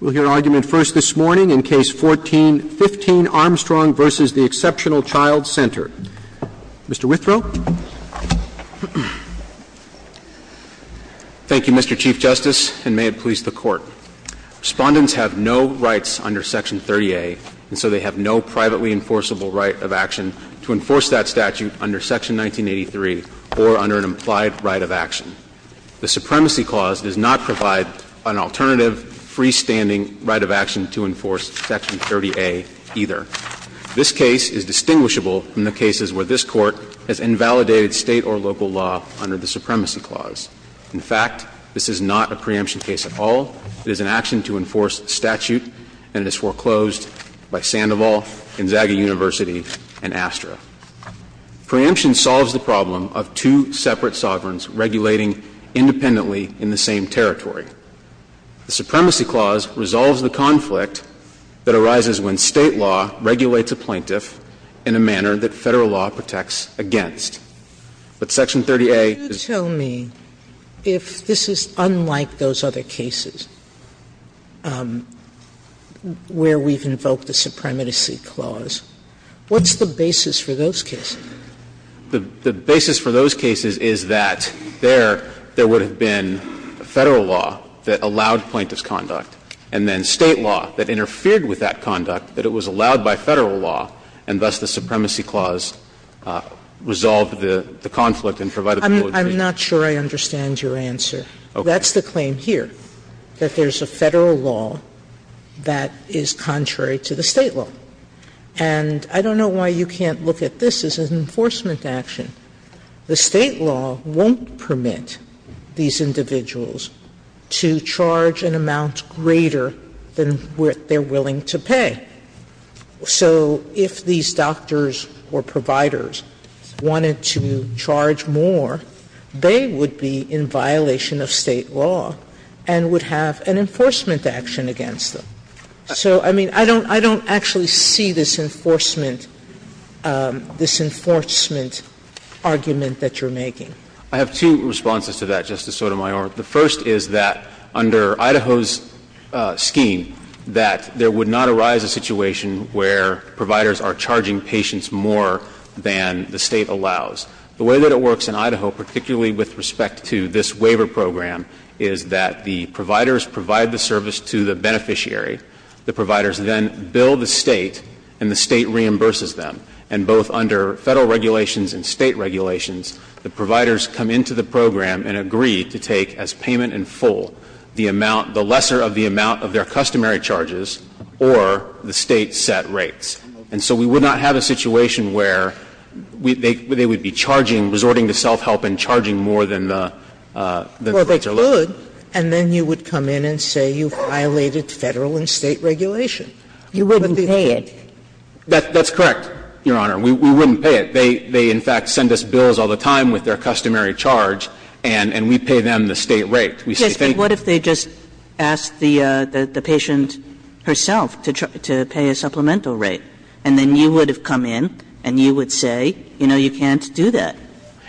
We'll hear argument first this morning in Case 14-15, Armstrong v. the Exceptional Child Center. Mr. Withrow. Thank you, Mr. Chief Justice, and may it please the Court. Respondents have no rights under Section 30A, and so they have no privately enforceable right of action to enforce that statute under Section 1983 or under an implied right of action. The Supremacy Clause does not provide an alternative freestanding right of action to enforce Section 30A either. This case is distinguishable from the cases where this Court has invalidated State or local law under the Supremacy Clause. In fact, this is not a preemption case at all. It is an action to enforce statute, and it is foreclosed by Sandoval, Gonzaga University, and Astra. Preemption solves the problem of two separate sovereigns regulating independently in the same territory. The Supremacy Clause resolves the conflict that arises when State law regulates a plaintiff in a manner that Federal law protects against. But Section 30A is not. Sotomayor, if this is unlike those other cases where we've invoked the Supremacy Clause, what's the basis for those cases? The basis for those cases is that there would have been Federal law that allowed plaintiff's conduct, and then State law that interfered with that conduct, that it was allowed by Federal law, and thus the Supremacy Clause resolved the conflict and provided people with freedom. I'm not sure I understand your answer. Okay. That's the claim here, that there's a Federal law that is contrary to the State law, and I don't know why you can't look at this as an enforcement action. The State law won't permit these individuals to charge an amount greater than what they're willing to pay. So if these doctors or providers wanted to charge more, they would be in violation of State law and would have an enforcement action against them. So, I mean, I don't actually see this enforcement argument that you're making. I have two responses to that, Justice Sotomayor. The first is that under Idaho's scheme, that there would not arise a situation where providers are charging patients more than the State allows. The way that it works in Idaho, particularly with respect to this waiver program, is that the providers provide the service to the beneficiary. The providers then bill the State, and the State reimburses them. And both under Federal regulations and State regulations, the providers come into the program and agree to take as payment in full the lesser of the amount of their customary charges or the State-set rates. And so we would not have a situation where they would be charging, resorting to self-help, and charging more than the greater limit. Sotomayor, and then you would come in and say you violated Federal and State regulation. You wouldn't pay it. That's correct, Your Honor. We wouldn't pay it. They, in fact, send us bills all the time with their customary charge, and we pay them the State rate. We say, thank you. But what if they just asked the patient herself to pay a supplemental rate? And then you would have come in and you would say, you know, you can't do that.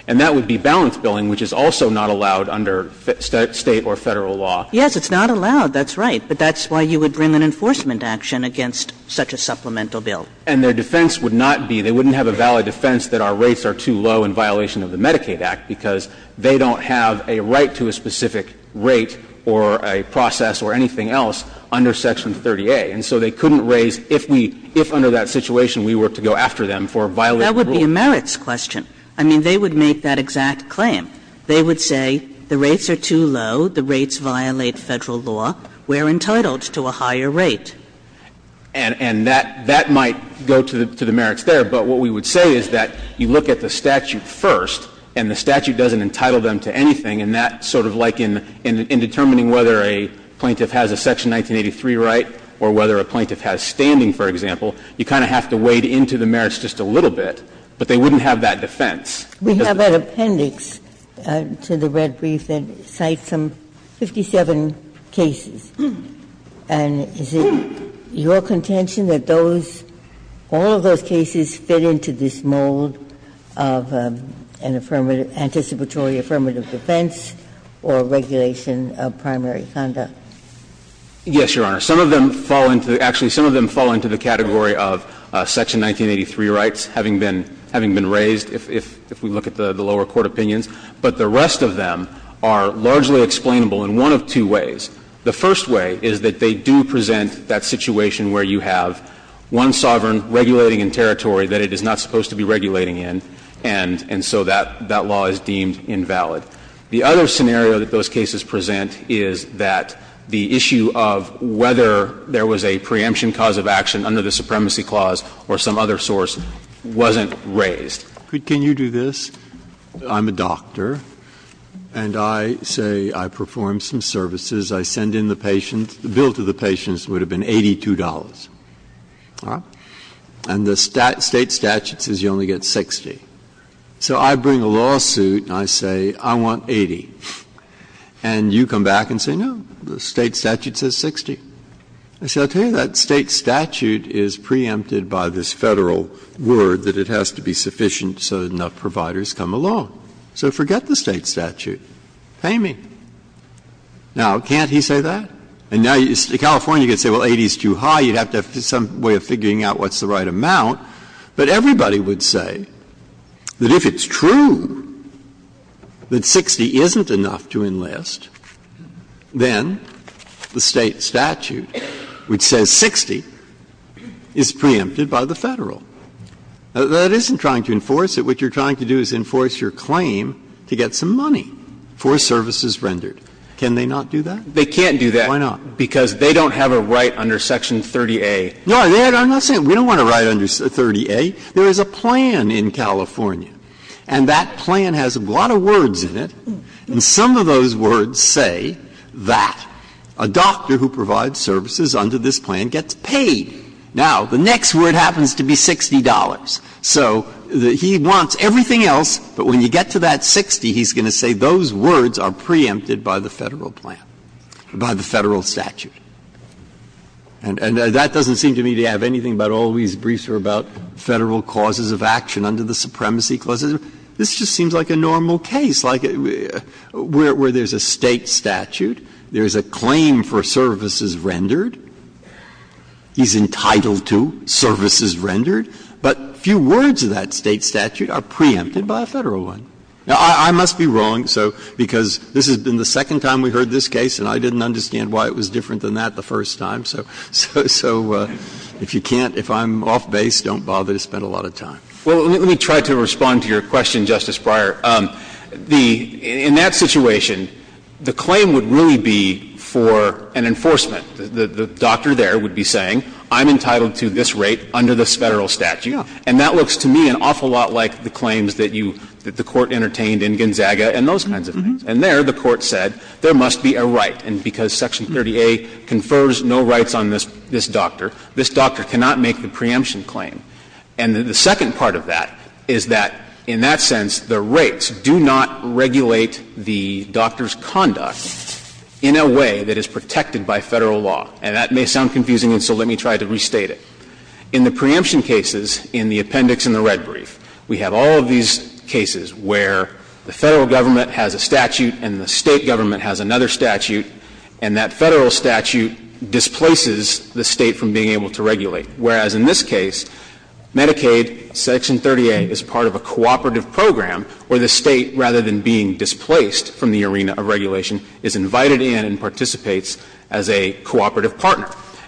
And that would be balance billing, which is also not allowed under State or Federal law. Yes, it's not allowed. That's right. But that's why you would bring an enforcement action against such a supplemental bill. And their defense would not be, they wouldn't have a valid defense that our rates are too low in violation of the Medicaid Act, because they don't have a right to a specific rate or a process or anything else under Section 30A. And so they couldn't raise, if we, if under that situation we were to go after them for violating the rule. That would be a merits question. I mean, they would make that exact claim. They would say the rates are too low, the rates violate Federal law, we're entitled to a higher rate. And that might go to the merits there. But what we would say is that you look at the statute first, and the statute doesn't entitle them to anything. And that's sort of like in determining whether a plaintiff has a Section 1983 right or whether a plaintiff has standing, for example. You kind of have to wade into the merits just a little bit. But they wouldn't have that defense. Ginsburg. We have an appendix to the red brief that cites some 57 cases. And is it your contention that those, all of those cases fit into this mold of an affirmative, anticipatory affirmative defense or regulation of primary conduct? Yes, Your Honor. Some of them fall into the, actually some of them fall into the category of Section 1983 rights, having been, having been raised, if we look at the lower court opinions. But the rest of them are largely explainable in one of two ways. The first way is that they do present that situation where you have one sovereign regulating in territory that it is not supposed to be regulating in, and so that law is deemed invalid. The other scenario that those cases present is that the issue of whether there was a preemption cause of action under the Supremacy Clause or some other source wasn't raised. Can you do this? I'm a doctor, and I say I perform some services. I send in the patient. The bill to the patient would have been $82. All right? And the State statute says you only get 60. So I bring a lawsuit and I say I want 80. And you come back and say, no, the State statute says 60. I say I'll tell you that State statute is preempted by this Federal word that it has to be sufficient so that enough providers come along. So forget the State statute. Pay me. Now, can't he say that? And now California could say, well, 80 is too high. You'd have to have some way of figuring out what's the right amount. But everybody would say that if it's true that 60 isn't enough to enlist, then the State statute, which says 60, is preempted by the Federal. That isn't trying to enforce it. What you're trying to do is enforce your claim to get some money for services rendered. Can they not do that? They can't do that. Why not? Because they don't have a right under Section 30A. No, I'm not saying we don't want a right under 30A. There is a plan in California, and that plan has a lot of words in it. And some of those words say that a doctor who provides services under this plan gets paid. Now, the next word happens to be $60. So he wants everything else, but when you get to that 60, he's going to say those words are preempted by the Federal plan, by the Federal statute. And that doesn't seem to me to have anything about all these briefs that are about Federal causes of action under the Supremacy Clause. This just seems like a normal case. It's like where there's a State statute, there's a claim for services rendered. He's entitled to services rendered, but few words of that State statute are preempted by a Federal one. Now, I must be wrong, so, because this has been the second time we've heard this case, and I didn't understand why it was different than that the first time. So if you can't, if I'm off base, don't bother to spend a lot of time. Well, let me try to respond to your question, Justice Breyer. The — in that situation, the claim would really be for an enforcement. The doctor there would be saying, I'm entitled to this rate under this Federal statute. And that looks to me an awful lot like the claims that you — that the Court entertained in Gonzaga and those kinds of things. And there, the Court said, there must be a right, and because Section 30A confers no rights on this doctor, this doctor cannot make the preemption claim. And the second part of that is that, in that sense, the rates do not regulate the doctor's conduct in a way that is protected by Federal law. And that may sound confusing, and so let me try to restate it. In the preemption cases in the appendix in the red brief, we have all of these cases where the Federal government has a statute and the State government has another statute, and that Federal statute displaces the State from being able to regulate, whereas in this case, Medicaid, Section 30A, is part of a cooperative program where the State, rather than being displaced from the arena of regulation, is invited in and participates as a cooperative partner.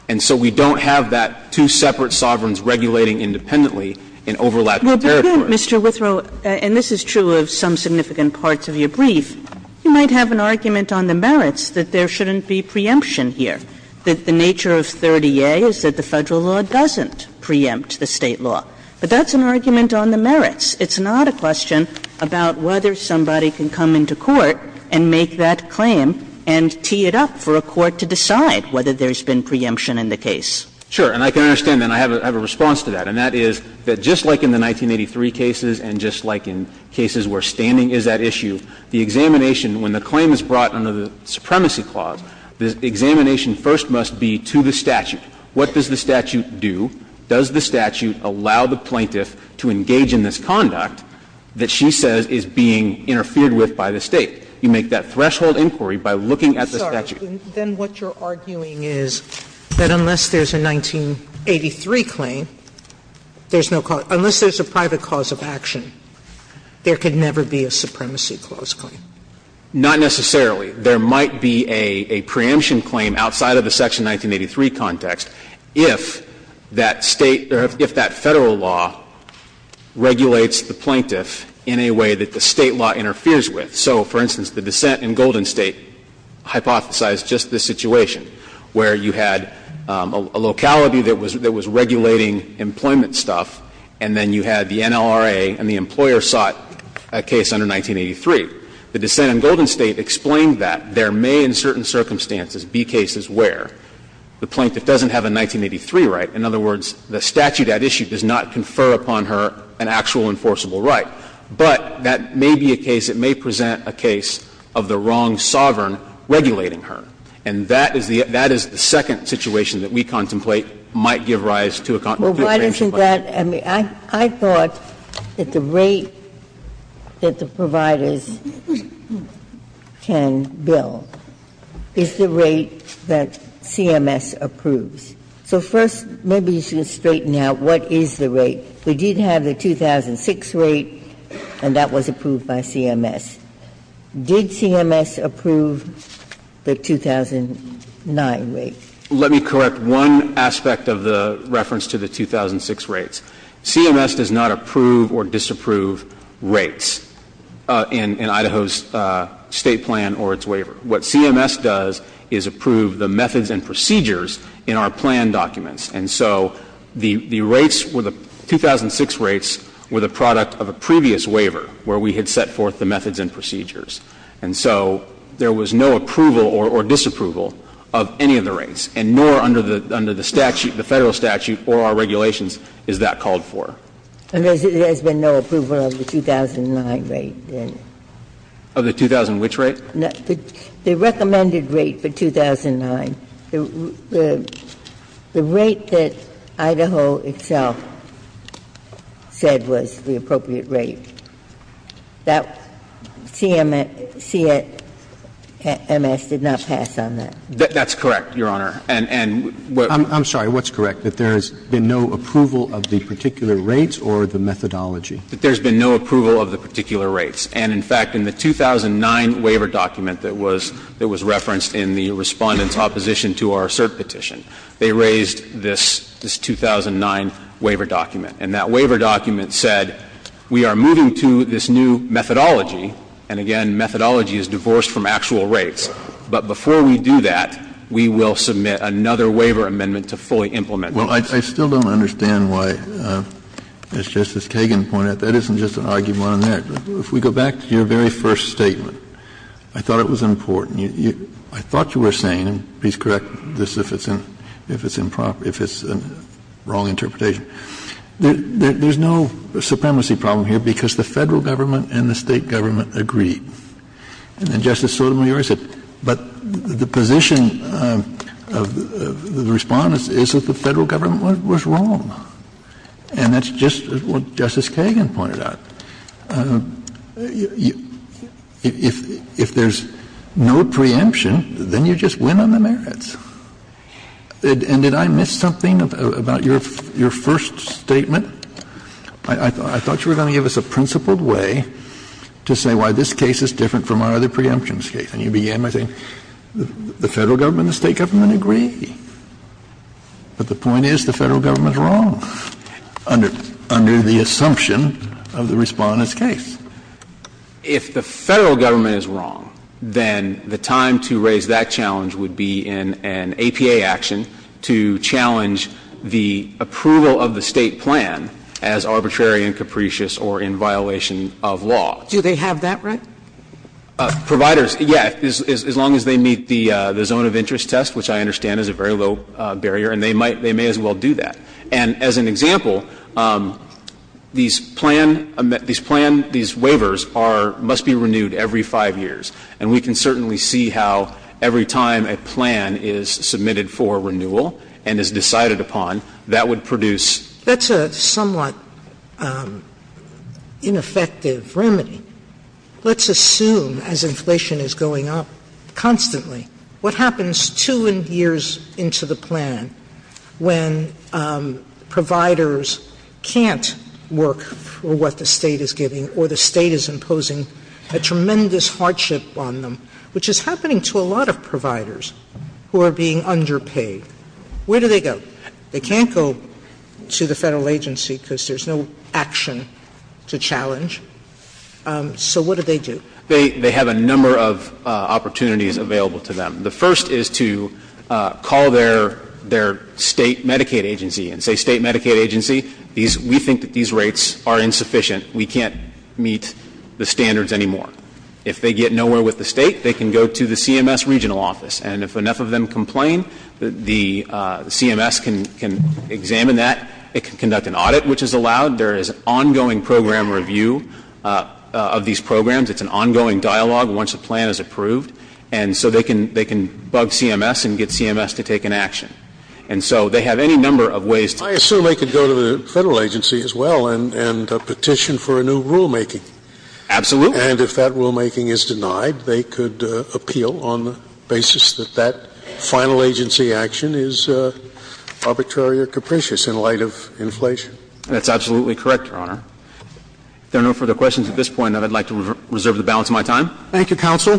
And so we don't have that two separate sovereigns regulating independently in overlapping territories. Kagan. Kagan. Kagan. Kagan. And this is true of some significant parts of your brief. You might have an argument on the merits that there shouldn't be preemption here. That the nature of 30A is that the Federal law doesn't preempt the State law. But that's an argument on the merits. It's not a question about whether somebody can come into court and make that claim and tee it up for a court to decide whether there's been preemption in the case. Sure. And I can understand that. I have a response to that. And that is that just like in the 1983 cases and just like in cases where standing is that issue, the examination, when the claim is brought under the Supremacy Clause, the examination first must be to the statute. What does the statute do? Does the statute allow the plaintiff to engage in this conduct that she says is being interfered with by the State? You make that threshold inquiry by looking at the statute. Sotomayor, then what you're arguing is that unless there's a 1983 claim, there's no cause of action. Unless there's a private cause of action, there could never be a Supremacy Clause claim. Not necessarily. There might be a preemption claim outside of the Section 1983 context if that State or if that Federal law regulates the plaintiff in a way that the State law interferes with. So, for instance, the dissent in Golden State hypothesized just this situation, where you had a locality that was regulating employment stuff, and then you had the NLRA and the employer sought a case under 1983. The dissent in Golden State explained that there may in certain circumstances be cases where the plaintiff doesn't have a 1983 right. In other words, the statute at issue does not confer upon her an actual enforceable right, but that may be a case, it may present a case of the wrong sovereign regulating her, and that is the second situation that we contemplate might give rise to a preemption claim. Ginsburg. I mean, I thought that the rate that the providers can bill is the rate that CMS approves. So first, maybe you should straighten out what is the rate. We did have the 2006 rate, and that was approved by CMS. Did CMS approve the 2009 rate? Let me correct one aspect of the reference to the 2006 rates. CMS does not approve or disapprove rates in Idaho's State plan or its waiver. What CMS does is approve the methods and procedures in our plan documents. And so the rates were the 2006 rates were the product of a previous waiver where we had set forth the methods and procedures. And so there was no approval or disapproval of any of the rates, and nor under the statute, the Federal statute or our regulations is that called for. And there has been no approval of the 2009 rate, then? Of the 2000 which rate? The recommended rate for 2009. The rate that Idaho itself said was the appropriate rate. That CMS did not pass on that. That's correct, Your Honor. And what I'm sorry. What's correct? That there has been no approval of the particular rates or the methodology? That there has been no approval of the particular rates. And, in fact, in the 2009 waiver document that was referenced in the Respondent's opposition to our cert petition, they raised this 2009 waiver document. And that waiver document said we are moving to this new methodology. And, again, methodology is divorced from actual rates. But before we do that, we will submit another waiver amendment to fully implement it. Well, I still don't understand why, as Justice Kagan pointed out, that isn't just an argument on that. If we go back to your very first statement, I thought it was important. I thought you were saying, and please correct this if it's improper, if it's a wrong interpretation. There's no supremacy problem here because the Federal government and the State government agreed. And then Justice Sotomayor said, but the position of the Respondents is that the Federal government was wrong. And that's just what Justice Kagan pointed out. If there's no preemption, then you just win on the merits. And did I miss something about your first statement? I thought you were going to give us a principled way to say why this case is different from our other preemptions case. And you began by saying the Federal government and the State government agree. But the point is the Federal government is wrong under the assumption of the Respondent's case. If the Federal government is wrong, then the time to raise that challenge would be in an APA action to challenge the approval of the State plan as arbitrary and capricious or in violation of law. Do they have that right? Providers, yes, as long as they meet the zone of interest test, which I understand is a very low barrier. And they might as well do that. And as an example, these plan these waivers are must be renewed every five years. And we can certainly see how every time a plan is submitted for renewal and is decided upon, that would produce. That's a somewhat ineffective remedy. Let's assume as inflation is going up constantly, what happens two years into the plan when providers can't work for what the State is giving or the State is imposing a tremendous hardship on them, which is happening to a lot of providers who are being underpaid, where do they go? They can't go to the Federal agency because there's no action to challenge. So what do they do? They have a number of opportunities available to them. The first is to call their State Medicaid agency and say, State Medicaid agency, we think that these rates are insufficient. We can't meet the standards anymore. If they get nowhere with the State, they can go to the CMS regional office. And if enough of them complain, the CMS can examine that. It can conduct an audit, which is allowed. There is ongoing program review of these programs. It's an ongoing dialogue once a plan is approved. And so they can bug CMS and get CMS to take an action. And so they have any number of ways to do that. I was just wondering if there is a way to appeal that to the Federal agency as well and petition for a new rulemaking. Absolutely. And if that rulemaking is denied, they could appeal on the basis that that final agency action is arbitrary or capricious in light of inflation. That's absolutely correct, Your Honor. If there are no further questions at this point, then I would like to reserve the balance of my time. Thank you, counsel.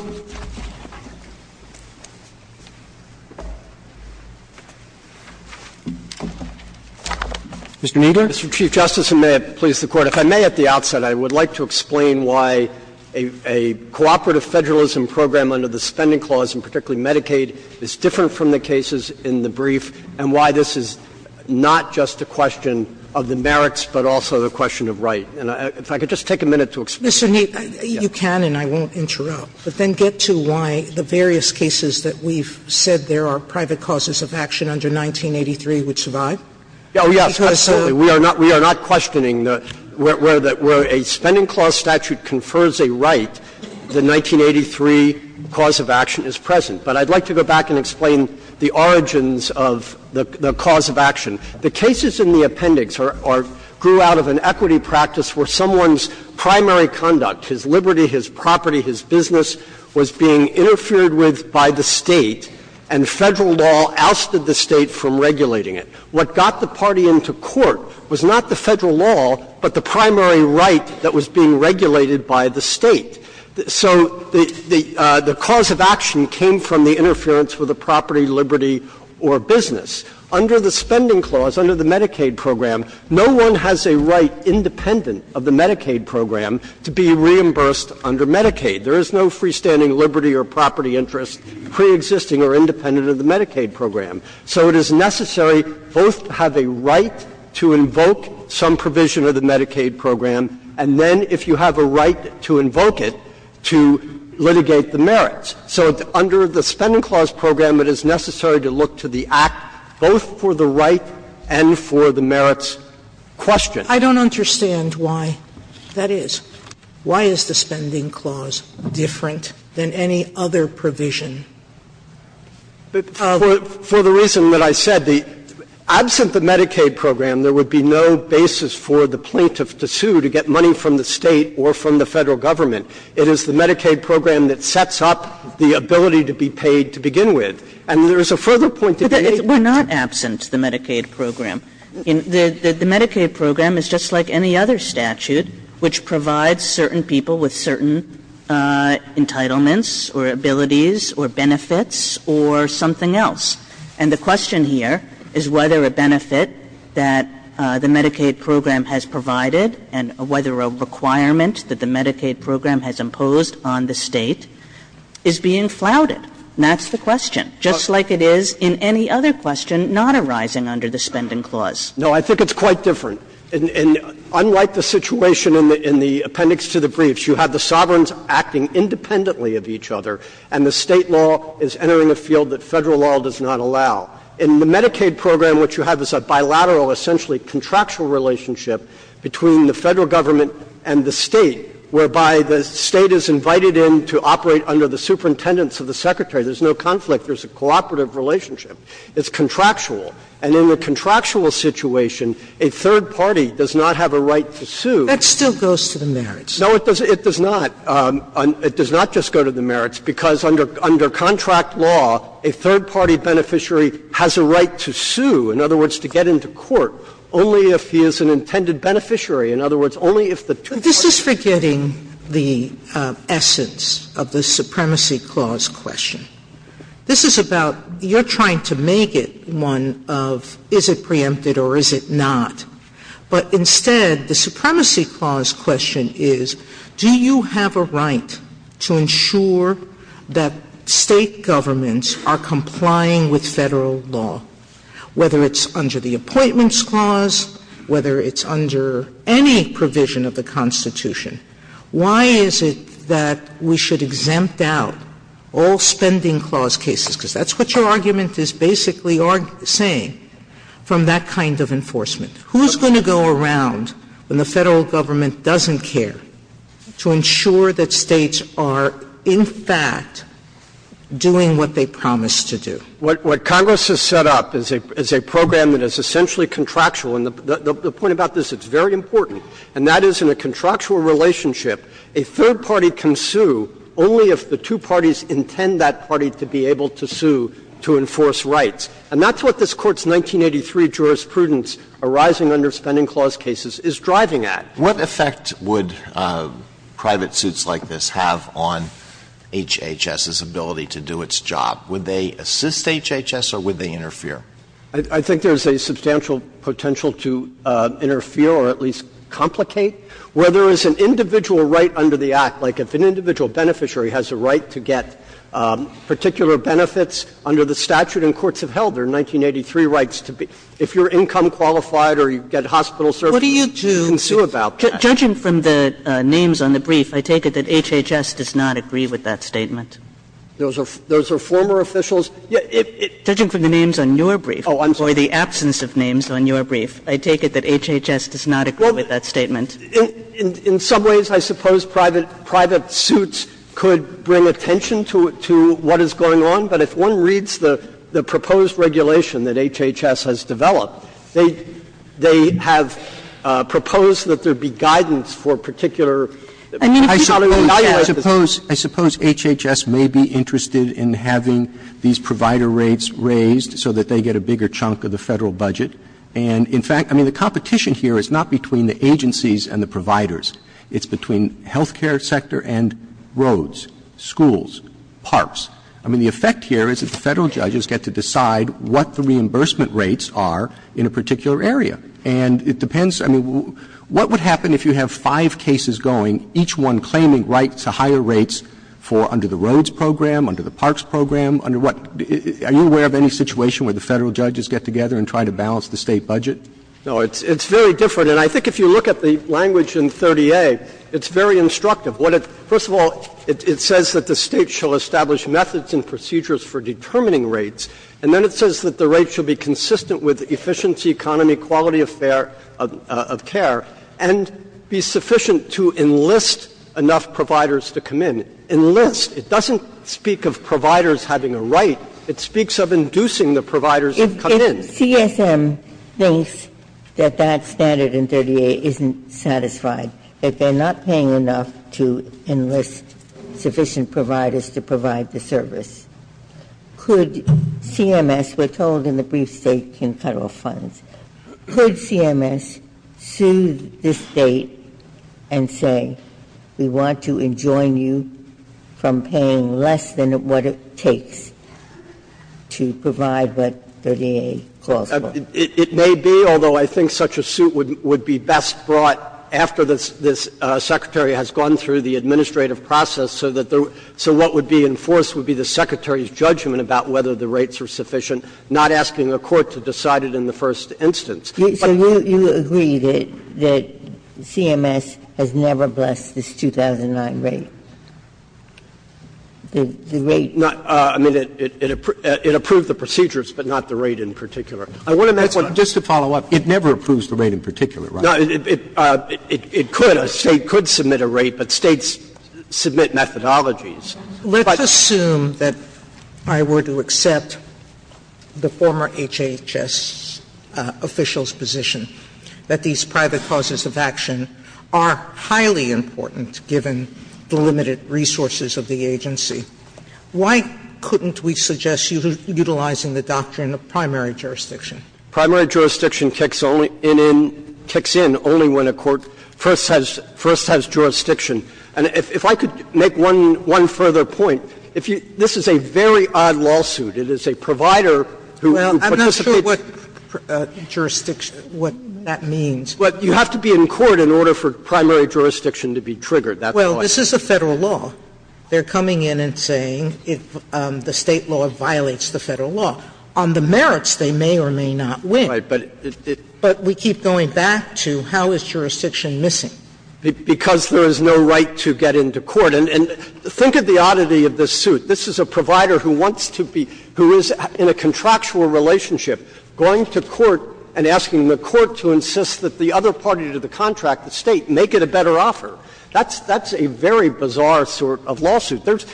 Mr. Kneedler. Mr. Chief Justice, and may it please the Court, if I may at the outset, I would like to explain why a cooperative Federalism program under the Spending Clause, and particularly Medicaid, is different from the cases in the brief, and why this is not just a question of the merits, but also the question of right. And if I could just take a minute to explain. Mr. Kneedler, you can and I won't interrupt. But then get to why the various cases that we've said there are private causes of action under 1983 would survive. Oh, yes, absolutely. We are not questioning that where a Spending Clause statute confers a right, the 1983 cause of action is present. But I'd like to go back and explain the origins of the cause of action. The cases in the appendix grew out of an equity practice where someone's primary conduct, his liberty, his property, his business, was being interfered with by the State, and Federal law ousted the State from regulating it. What got the party into court was not the Federal law, but the primary right that was being regulated by the State. So the cause of action came from the interference with the property, liberty, or business. Under the Spending Clause, under the Medicaid program, no one has a right independent of the Medicaid program to be reimbursed under Medicaid. There is no freestanding liberty or property interest preexisting or independent of the Medicaid program. So it is necessary both to have a right to invoke some provision of the Medicaid program, and then if you have a right to invoke it, to litigate the merits. So under the Spending Clause program, it is necessary to look to the Act both for the right and for the merits question. Sotomayor, I don't understand why, that is, why is the Spending Clause different than any other provision? For the reason that I said, absent the Medicaid program, there would be no basis for the plaintiff to sue to get money from the State or from the Federal government. It is the Medicaid program that sets up the ability to be paid to begin with. And there is a further point to be made. We're not absent the Medicaid program. The Medicaid program is just like any other statute which provides certain people with certain entitlements or abilities or benefits or something else. And the question here is whether a benefit that the Medicaid program has provided and whether a requirement that the Medicaid program has imposed on the State is being And that's the question. Just like it is in any other question not arising under the Spending Clause. No, I think it's quite different. And unlike the situation in the appendix to the briefs, you have the sovereigns acting independently of each other, and the State law is entering a field that Federal law does not allow. In the Medicaid program, what you have is a bilateral, essentially contractual relationship between the Federal government and the State, whereby the State is invited in to operate under the superintendence of the Secretary. There's no conflict. There's a cooperative relationship. It's contractual. And in the contractual situation, a third party does not have a right to sue. Sotomayor That still goes to the merits. Kneedler No, it does not. It does not just go to the merits, because under contract law, a third-party beneficiary has a right to sue, in other words, to get into court, only if he is an intended beneficiary. In other words, only if the two parties agree. Sotomayor This is forgetting the essence of the Supremacy Clause question. This is about you're trying to make it one of is it preempted or is it not, but instead the Supremacy Clause question is, do you have a right to ensure that State governments are complying with Federal law, whether it's under the Appointments Clause, whether it's under any provision of the Constitution? Why is it that we should exempt out all Spending Clause cases, because that's what your argument is basically saying, from that kind of enforcement? Who's going to go around when the Federal government doesn't care to ensure that States are in fact doing what they promised to do? Kneedler What Congress has set up is a program that is essentially contractual. And the point about this, it's very important. And that is, in a contractual relationship, a third party can sue only if the two parties intend that party to be able to sue to enforce rights. And that's what this Court's 1983 jurisprudence arising under Spending Clause cases is driving at. Alito What effect would private suits like this have on HHS's ability to do its job? Would they assist HHS or would they interfere? Kneedler I think there's a substantial potential to interfere or at least complicate. Where there is an individual right under the Act, like if an individual beneficiary has a right to get particular benefits under the statute and courts have held their 1983 rights to be, if your income qualified or you get hospital services, you can sue about that. Kagan Judging from the names on the brief, I take it that HHS does not agree with that statement. Kneedler Those are former officials. Kagan Judging from the names on your brief or the absence of names on your brief, I take it that HHS does not agree with that statement. Kneedler In some ways, I suppose private suits could bring attention to what is going on, but if one reads the proposed regulation that HHS has developed, they have proposed that there be guidance for particular. Roberts I suppose HHS may be interested in having these provider rates raised so that they get a bigger chunk of the Federal budget. And in fact, I mean, the competition here is not between the agencies and the providers. It's between health care sector and roads, schools, parks. I mean, the effect here is that the Federal judges get to decide what the reimbursement rates are in a particular area. And it depends, I mean, what would happen if you have five cases going, each one claiming rights to higher rates for under the roads program, under the parks program, under what? Are you aware of any situation where the Federal judges get together and try to balance the State budget? Kneedler No, it's very different. And I think if you look at the language in 30A, it's very instructive. First of all, it says that the State shall establish methods and procedures for determining rates, and then it says that the rates shall be consistent with efficiency, quality of care, and be sufficient to enlist enough providers to come in. Enlist, it doesn't speak of providers having a right, it speaks of inducing the providers to come in. Ginsburg If CSM thinks that that standard in 30A isn't satisfied, that they're not paying enough to enlist sufficient providers to provide the service, could CMS, we're told in the brief State, can cut off funds? Could CMS sue this State and say, we want to enjoin you from paying less than what it takes to provide what 30A calls for? Kneedler It may be, although I think such a suit would be best brought after this Secretary has gone through the administrative process, so that the so what would be enforced would be the Secretary's judgment about whether the rates are sufficient, not asking a court to decide it in the first instance. Ginsburg So you agree that CMS has never blessed this 2009 rate? The rate? Kneedler I mean, it approved the procedures, but not the rate in particular. I want to make one point. Sotomayor Just to follow up, it never approves the rate in particular, right? Kneedler It could. A State could submit a rate, but States submit methodologies. Sotomayor Let's assume that I were to accept the former HHS official's position that these private causes of action are highly important, given the limited resources of the agency. Why couldn't we suggest utilizing the doctrine of primary jurisdiction? Kneedler Primary jurisdiction kicks in only when a court first has jurisdiction. And if I could make one further point, if you this is a very odd lawsuit. It is a provider who participates. Sotomayor Well, I'm not sure what jurisdiction, what that means. Kneedler But you have to be in court in order for primary jurisdiction to be triggered. That's why. Sotomayor Well, this is a Federal law. They're coming in and saying if the State law violates the Federal law. On the merits, they may or may not win. But we keep going back to how is jurisdiction missing? Kneedler Because there is no right to get into court. And think of the oddity of this suit. This is a provider who wants to be, who is in a contractual relationship, going to court and asking the court to insist that the other party to the contract, the State, make it a better offer. That's a very bizarre sort of lawsuit. There's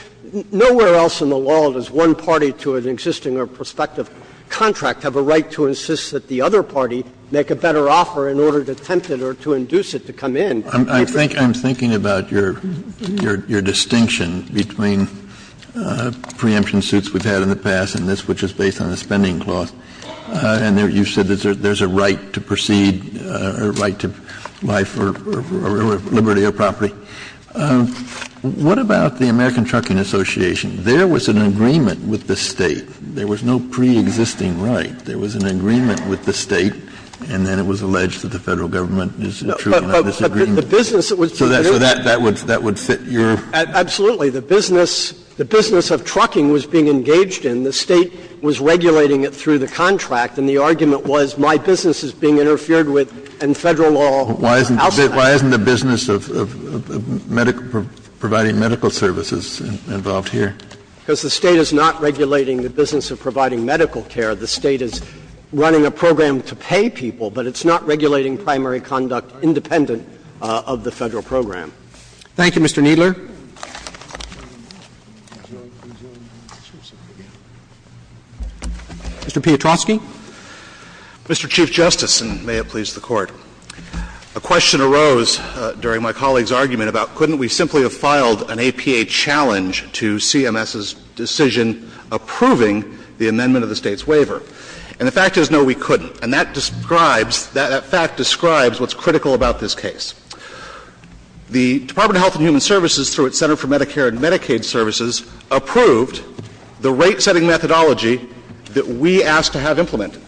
nowhere else in the law does one party to an existing or prospective contract have a right to insist that the other party make a better offer in order to tempt it or to induce it to come in. Kennedy I'm thinking about your distinction between preemption suits we've had in the past and this, which is based on the spending clause. And you said that there's a right to proceed, a right to life or liberty or property. What about the American Trucking Association? There was an agreement with the State. There was no preexisting right. There was an agreement with the State, and then it was alleged that the Federal Government is true to that disagreement. Kneedler So that would fit your? Absolutely. The business, the business of trucking was being engaged in. The State was regulating it through the contract, and the argument was, my business is being interfered with and Federal law outside. Kennedy Why isn't the business of providing medical services involved here? Kneedler Because the State is not regulating the business of providing medical care. The State is running a program to pay people, but it's not regulating primary conduct independent of the Federal program. Roberts Thank you, Mr. Kneedler. Mr. Piotrowski. Piotrowski Mr. Chief Justice, and may it please the Court. A question arose during my colleague's argument about couldn't we simply have filed an APA challenge to CMS's decision approving the amendment of the State's waiver. And the fact is, no, we couldn't. And that describes, that fact describes what's critical about this case. The Department of Health and Human Services, through its Center for Medicare and Medicaid Services, approved the rate-setting methodology that we asked to have implemented.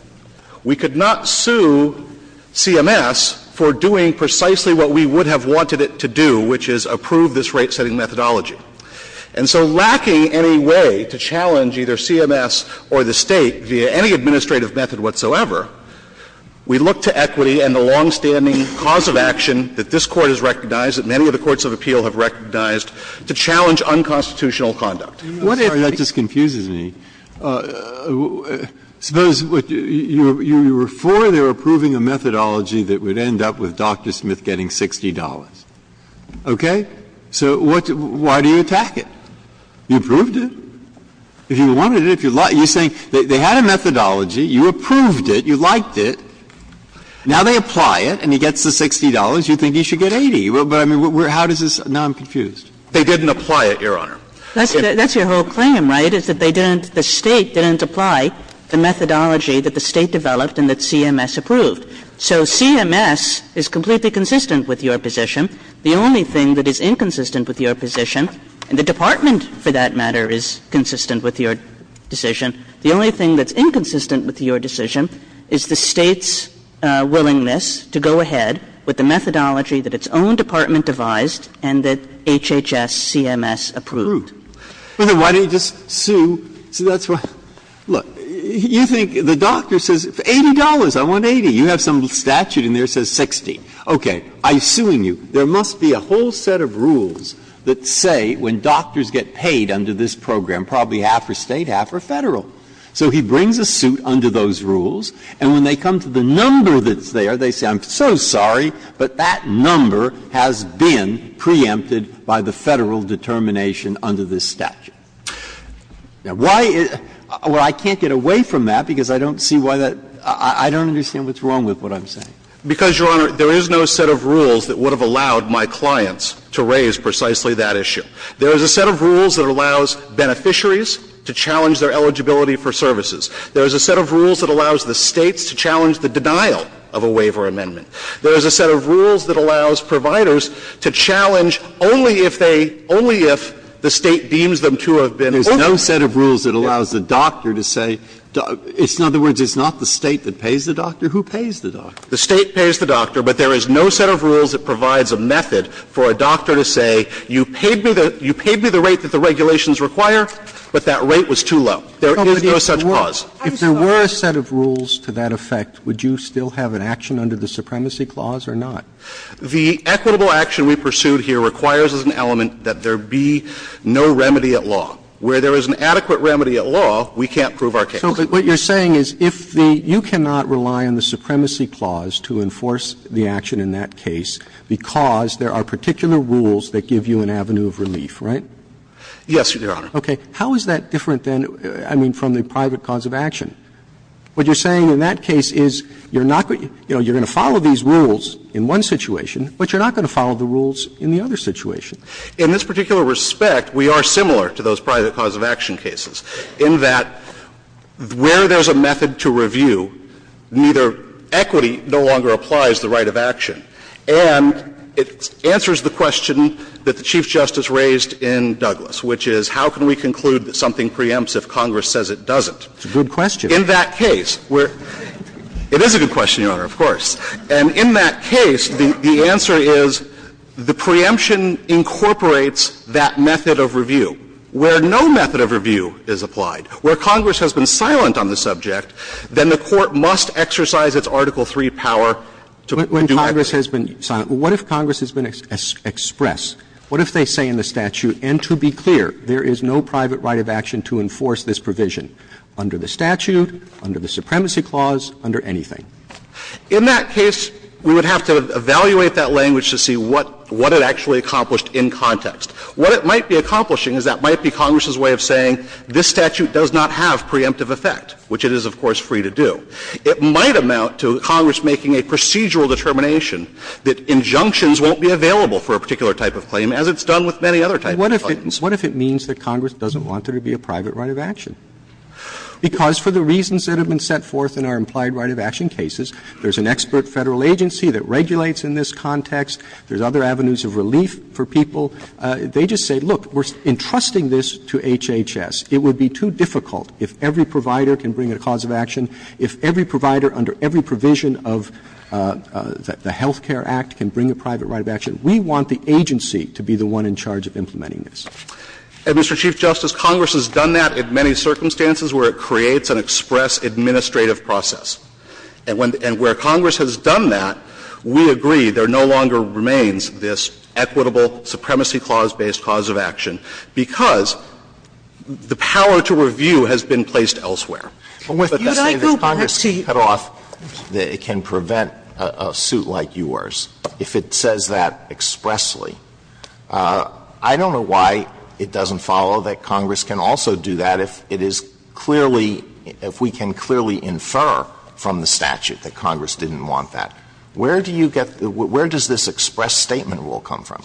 We could not sue CMS for doing precisely what we would have wanted it to do, which is approve this rate-setting methodology. And so lacking any way to challenge either CMS or the State via any administrative method whatsoever, we look to equity and the longstanding cause of action that this Court has recognized, that many of the courts of appeal have recognized, to challenge unconstitutional conduct. Breyer What if you were for their approving a methodology that would end up with Dr. Smith getting $60, okay? So why do you attack it? You approved it. If you wanted it, if you liked it, you're saying they had a methodology, you approved it, you liked it. Now they apply it and he gets the $60, you think he should get $80. But I mean, how does this – now I'm confused. They didn't apply it, Your Honor. That's your whole claim, right, is that they didn't, the State didn't apply the methodology that the State developed and that CMS approved. So CMS is completely consistent with your position. The only thing that is inconsistent with your position, and the Department, for that matter, is consistent with your decision, the only thing that's inconsistent with your decision is the State's willingness to go ahead with the methodology that its own department devised and that HHS CMS approved. Breyer Why don't you just sue? See, that's why. Look, you think the doctor says, $80, I want $80. You have some statute in there that says $60. Okay. I'm suing you. There must be a whole set of rules that say when doctors get paid under this program, probably half are State, half are Federal. So he brings a suit under those rules, and when they come to the number that's there, they say, I'm so sorry, but that number has been preempted by the Federal determination under this statute. Now, why – well, I can't get away from that because I don't see why that – I don't understand what's wrong with what I'm saying. Because, Your Honor, there is no set of rules that would have allowed my clients to raise precisely that issue. There is a set of rules that allows beneficiaries to challenge their eligibility for services. There is a set of rules that allows the States to challenge the denial of a waiver amendment. There is a set of rules that allows providers to challenge only if they – only if the State deems them to have been ordered. There's no set of rules that allows the doctor to say – in other words, it's not the State that pays the doctor. Who pays the doctor? The State pays the doctor, but there is no set of rules that provides a method for a doctor to say, you paid me the – you paid me the rate that the regulations require, but that rate was too low. There is no such clause. Roberts. If there were a set of rules to that effect, would you still have an action under the Supremacy Clause or not? The equitable action we pursued here requires as an element that there be no remedy at law. Where there is an adequate remedy at law, we can't prove our case. Roberts. So what you're saying is if the – you cannot rely on the Supremacy Clause to enforce the action in that case because there are particular rules that give you an avenue of relief, right? Yes, Your Honor. Okay. How is that different than – I mean, from the private cause of action? What you're saying in that case is you're not going to – you know, you're going to follow these rules in one situation, but you're not going to follow the rules in the other situation. In this particular respect, we are similar to those private cause of action cases in that where there's a method to review, neither equity no longer applies the right of action, and it answers the question that the Chief Justice raised in Douglas, which is how can we conclude that something preempts if Congress says it doesn't? It's a good question. In that case, where – it is a good question, Your Honor, of course. And in that case, the answer is the preemption incorporates that method of review. Where no method of review is applied, where Congress has been silent on the subject, then the Court must exercise its Article III power to do equity. When Congress has been silent, what if Congress has been express? What if they say in the statute, and to be clear, there is no private right of action to enforce this provision under the statute, under the supremacy clause, under anything? In that case, we would have to evaluate that language to see what it actually accomplished in context. What it might be accomplishing is that might be Congress's way of saying this statute does not have preemptive effect, which it is, of course, free to do. It might amount to Congress making a procedural determination that injunctions won't be available for a particular type of claim, as it's done with many other types of claims. Roberts. Roberts. What if it means that Congress doesn't want there to be a private right of action? Because for the reasons that have been set forth in our implied right of action cases, there's an expert Federal agency that regulates in this context, there's other avenues of relief for people. They just say, look, we're entrusting this to HHS. It would be too difficult if every provider can bring a cause of action, if every provider under every provision of the Health Care Act can bring a private right of action. We want the agency to be the one in charge of implementing this. And, Mr. Chief Justice, Congress has done that in many circumstances where it creates an express administrative process. And where Congress has done that, we agree there no longer remains this equitable supremacy clause-based cause of action, because the power to review has been placed elsewhere. But the state that Congress cut off, that it can prevent a suit like yours, if it says that expressly, I don't know why it doesn't follow that Congress can also do that if it is clearly, if we can clearly infer from the statute that Congress didn't want that. Where do you get the – where does this express statement rule come from?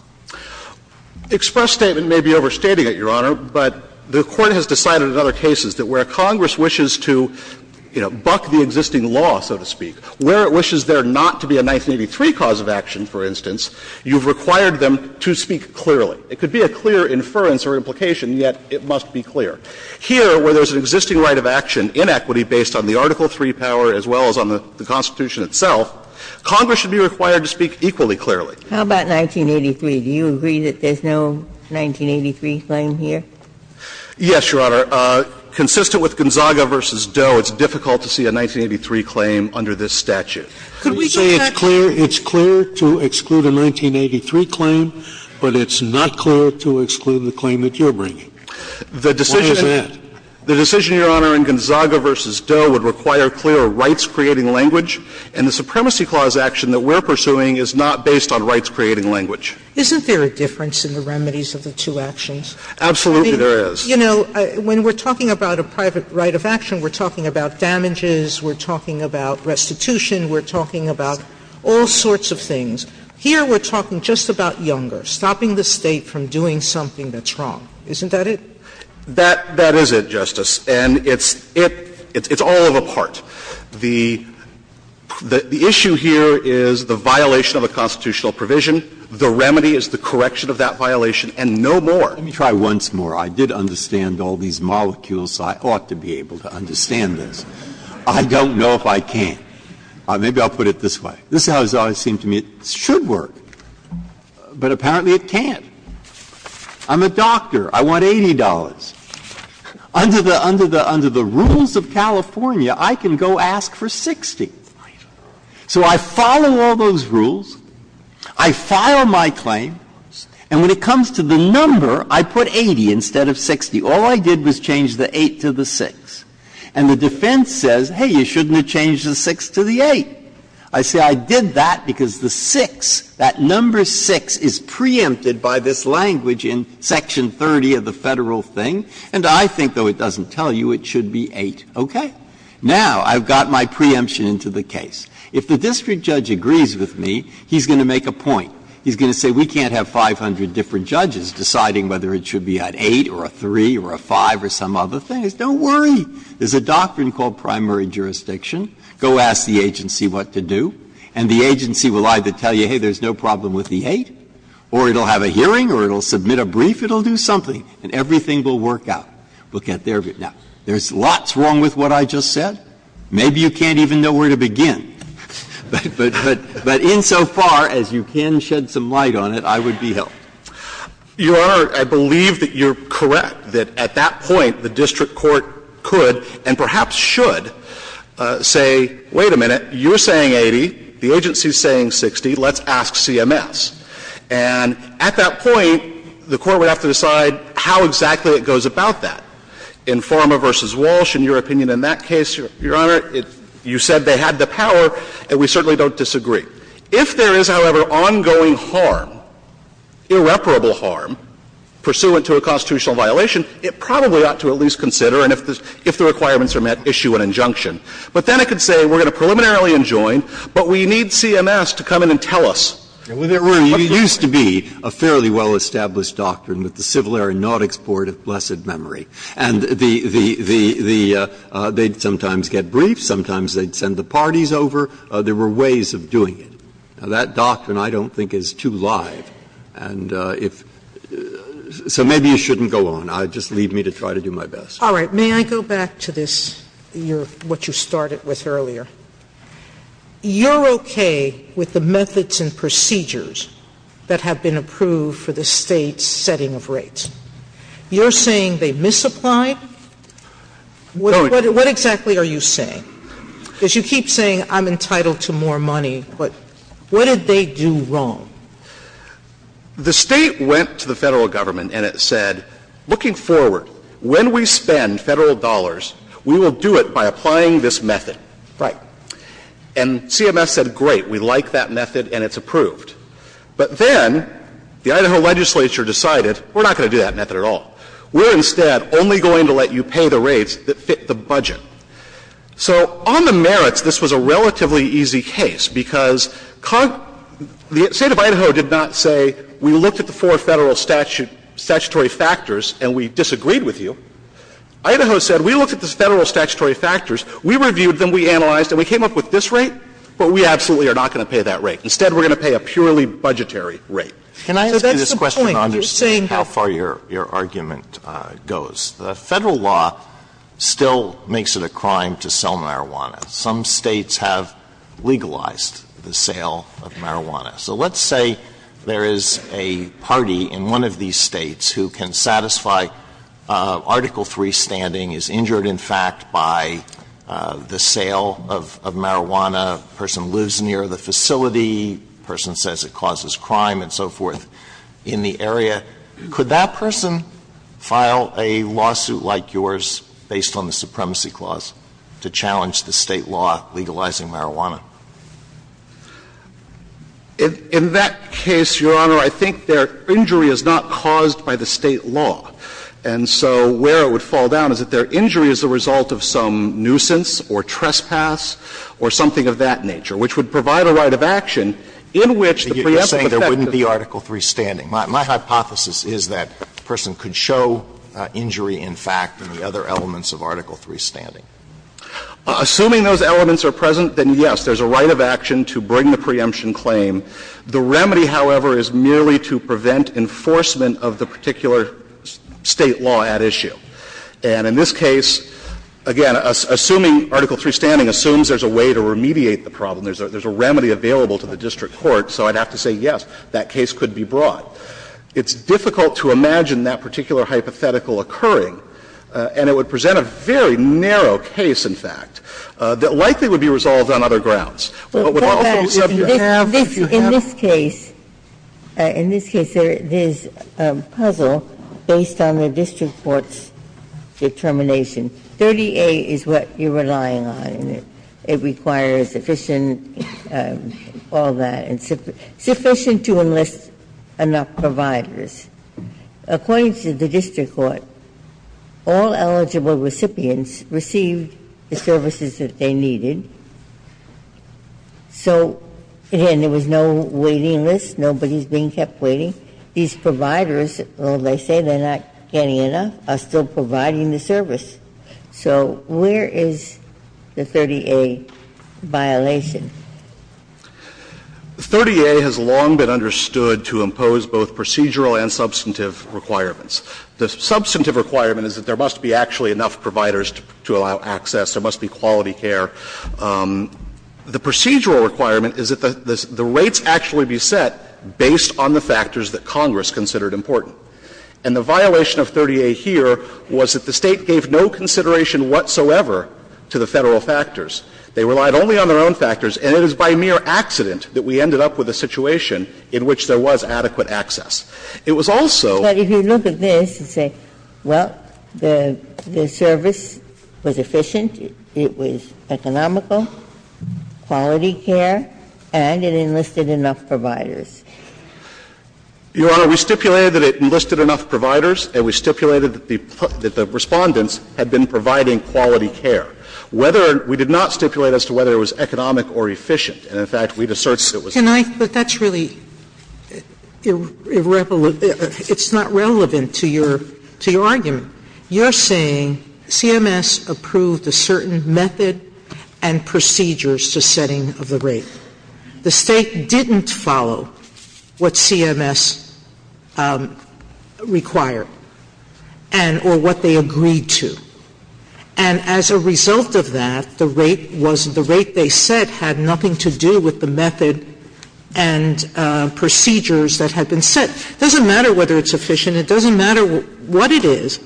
Express statement may be overstating it, Your Honor, but the Court has decided in other cases that where Congress wishes to, you know, buck the existing law, so to speak, where it wishes there not to be a 1983 cause of action, for instance, you've required them to speak clearly. It could be a clear inference or implication, yet it must be clear. Here, where there is an existing right of action in equity based on the Article III power as well as on the Constitution itself, Congress should be required to speak equally clearly. How about 1983? Do you agree that there is no 1983 claim here? Yes, Your Honor. Consistent with Gonzaga v. Doe, it's difficult to see a 1983 claim under this statute. Could we get that clear? It's clear to exclude a 1983 claim, but it's not clear to exclude the claim that you're bringing. Why is that? The decision, Your Honor, in Gonzaga v. Doe would require clear rights-creating language, and the Supremacy Clause action that we're pursuing is not based on rights-creating language. Isn't there a difference in the remedies of the two actions? Absolutely there is. You know, when we're talking about a private right of action, we're talking about damages, we're talking about restitution, we're talking about all sorts of things. Here we're talking just about Younger, stopping the State from doing something that's wrong. Isn't that it? That isn't, Justice, and it's all of a part. The issue here is the violation of a constitutional provision. The remedy is the correction of that violation, and no more. Let me try once more. I did understand all these molecules, so I ought to be able to understand this. I don't know if I can. Maybe I'll put it this way. This is how it always seemed to me it should work, but apparently it can't. I'm a doctor. I want $80. Under the rules of California, I can go ask for $60. So I follow all those rules. I file my claim, and when it comes to the number, I put $80 instead of $60. All I did was change the 8 to the 6. And the defense says, hey, you shouldn't have changed the 6 to the 8. I say I did that because the 6, that number 6, is preempted by this language in section 30 of the Federal thing, and I think, though it doesn't tell you, it should be 8. Okay? Now I've got my preemption into the case. If the district judge agrees with me, he's going to make a point. He's going to say we can't have 500 different judges deciding whether it should be an 8 or a 3 or a 5 or some other thing. He says, don't worry. There's a doctrine called primary jurisdiction. Go ask the agency what to do, and the agency will either tell you, hey, there's no problem with the 8, or it will have a hearing, or it will submit a brief, it will do something, and everything will work out. Now, there's lots wrong with what I just said. Maybe you can't even know where to begin. But insofar as you can shed some light on it, I would be helped. Your Honor, I believe that you're correct, that at that point the district court could and perhaps should say, wait a minute, you're saying 80, the agency is saying 60, let's ask CMS. And at that point, the court would have to decide how exactly it goes about that. In Forma v. Walsh, in your opinion in that case, Your Honor, you said they had the power, and we certainly don't disagree. If there is, however, ongoing harm, irreparable harm, pursuant to a constitutional violation, it probably ought to at least consider, and if the requirements are met, issue an injunction. But then it could say, we're going to preliminarily enjoin, but we need CMS to come in and tell us. Breyer, you used to be a fairly well-established doctrine with the Civil Air and Nautics Board, if blessed memory. And the, the, the, the, they'd sometimes get briefs, sometimes they'd send the parties over, there were ways of doing it. Now, that doctrine, I don't think, is too live. And if, so maybe you shouldn't go on. I, just leave me to try to do my best. Sotomayor, may I go back to this, your, what you started with earlier? You're okay with the methods and procedures that have been approved for the State's setting of rates. You're saying they misapplied? What, what, what exactly are you saying? Because you keep saying, I'm entitled to more money, but what did they do wrong? The State went to the Federal Government and it said, looking forward, when we spend Federal dollars, we will do it by applying this method. Right. And CMS said, great, we like that method and it's approved. But then the Idaho legislature decided, we're not going to do that method at all. We're instead only going to let you pay the rates that fit the budget. So on the merits, this was a relatively easy case, because the State of Idaho did not say, we looked at the four Federal statutory factors and we disagreed with you. Idaho said, we looked at the Federal statutory factors, we reviewed them, we analyzed them, we came up with this rate, but we absolutely are not going to pay that rate. Instead, we're going to pay a purely budgetary rate. So that's the point. Alitoso, you're saying how far your argument goes. The Federal law still makes it a crime to sell marijuana. Some States have legalized the sale of marijuana. So let's say there is a party in one of these States who can satisfy Article III standing is injured, in fact, by the sale of marijuana, a person lives near the facility, a person says it causes crime and so forth in the area. Could that person file a lawsuit like yours based on the supremacy clause to challenge the State law legalizing marijuana? In that case, Your Honor, I think their injury is not caused by the State law. And so where it would fall down is that their injury is the result of some nuisance or trespass or something of that nature, which would provide a right of action in which the preemptive effect of the State law would not exist. Alitoso, you're saying there is a right of action to bring the preemption claim to Article III standing. My hypothesis is that the person could show injury, in fact, in the other elements of Article III standing. Assuming those elements are present, then yes, there is a right of action to bring the preemption claim. The remedy, however, is merely to prevent enforcement of the particular State law at issue. And in this case, again, assuming Article III standing assumes there's a way to remediate the problem, there's a remedy available to the district court, so I'd have to say, yes, that case could be brought. It's difficult to imagine that particular hypothetical occurring, and it would present a very narrow case, in fact, that likely would be resolved on other grounds. But what would also be subject to that? Ginsburg-Miller In this case, in this case, there's a puzzle based on the district court's determination. 38 is what you're relying on, and it requires sufficient, all that, and sufficient to enlist enough providers. According to the district court, all eligible recipients received the services that they needed. So, again, there was no waiting list. Nobody's being kept waiting. These providers, although they say they're not getting enough, are still providing the service. So where is the 30A violation? Stewart The 30A has long been understood to impose both procedural and substantive requirements. The substantive requirement is that there must be actually enough providers to allow access. There must be quality care. The procedural requirement is that the rates actually be set based on the factors that Congress considered important. And the violation of 30A here was that the State gave no consideration whatsoever to the Federal factors. They relied only on their own factors, and it is by mere accident that we ended up with a situation in which there was adequate access. It was also the case that the Federal government was not providing adequate It was not sufficient. It was economical, quality care, and it enlisted enough providers. Stewart Your Honor, we stipulated that it enlisted enough providers, and we stipulated that the Respondents had been providing quality care. Whether we did not stipulate as to whether it was economic or efficient, and in fact we'd assert that it was not. Sotomayor But that's really irrelevant. It's not relevant to your argument. You're saying CMS approved a certain method and procedures to setting of the rate. The State didn't follow what CMS required and or what they agreed to. And as a result of that, the rate was, the rate they set had nothing to do with the method and procedures that had been set. Doesn't matter whether it's efficient. It doesn't matter what it is.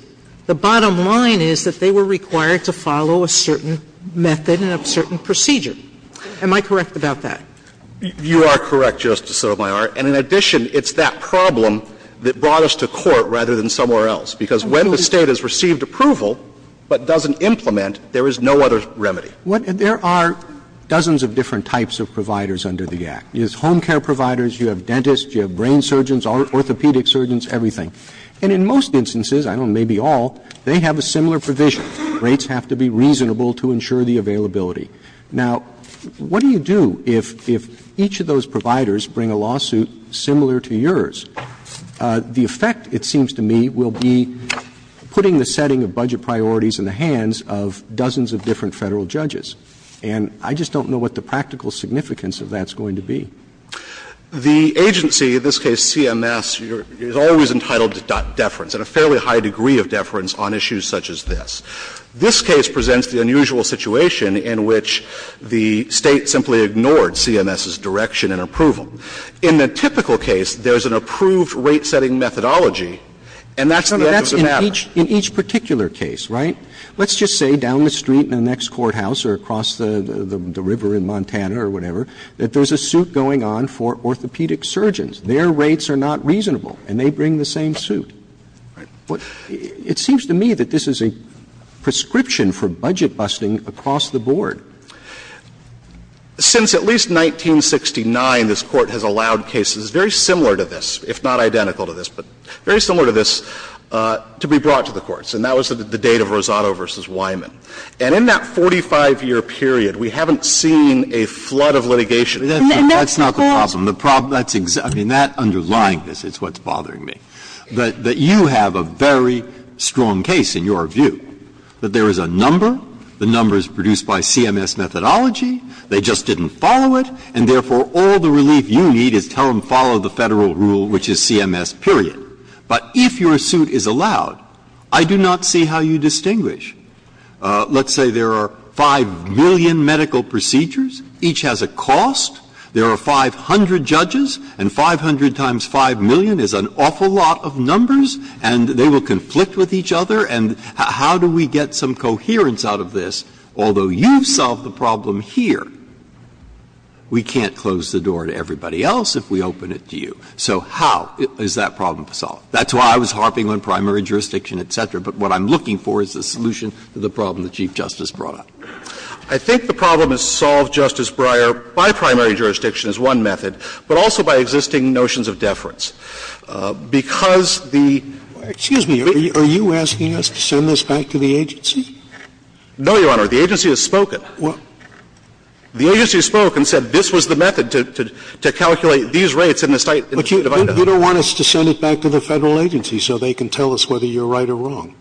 The bottom line is that they were required to follow a certain method and a certain procedure. Am I correct about that? You are correct, Justice Sotomayor. And in addition, it's that problem that brought us to court rather than somewhere else. Because when the State has received approval but doesn't implement, there is no other remedy. There are dozens of different types of providers under the Act. There's home care providers, you have dentists, you have brain surgeons, orthopedic surgeons, everything. And in most instances, I don't know, maybe all, they have a similar provision. Rates have to be reasonable to ensure the availability. Now, what do you do if each of those providers bring a lawsuit similar to yours? The effect, it seems to me, will be putting the setting of budget priorities in the hands of dozens of different Federal judges. And I just don't know what the practical significance of that's going to be. The agency, in this case CMS, is always entitled to deference, and a fairly high degree of deference on issues such as this. This case presents the unusual situation in which the State simply ignored CMS's direction and approval. In the typical case, there's an approved rate-setting methodology, and that's the end of the matter. In each particular case, right? Let's just say down the street in the next courthouse or across the river in Montana or whatever, that there's a suit going on for orthopedic surgeons. Their rates are not reasonable, and they bring the same suit. It seems to me that this is a prescription for budget-busting across the board. Since at least 1969, this Court has allowed cases very similar to this, if not identical to this, but very similar to this, to be brought to the courts, and that was the date of Rosado v. Wyman. And in that 45-year period, we haven't seen a flood of litigation. Breyer, that's not the problem. The problem that's exactly that underlying this is what's bothering me, that you have a very strong case in your view, that there is a number, the number is produced by CMS methodology, they just didn't follow it, and therefore all the relief you need is tell them follow the Federal rule, which is CMS, period. But if your suit is allowed, I do not see how you distinguish. Let's say there are 5 million medical procedures, each has a cost, there are 500 judges, and 500 times 5 million is an awful lot of numbers, and they will conflict with each other, and how do we get some coherence out of this? Although you've solved the problem here, we can't close the door to everybody else if we open it to you. So how is that problem solved? That's why I was harping on primary jurisdiction, et cetera. But what I'm looking for is the solution to the problem that Chief Justice brought up. I think the problem is solved, Justice Breyer, by primary jurisdiction as one method, but also by existing notions of deference. Because the ---- Scalia, are you asking us to send this back to the agency? No, Your Honor. The agency has spoken. The agency has spoken, said this was the method to calculate these rates in the state of Idaho. But you don't want us to send it back to the Federal agency so they can tell us whether you're right or wrong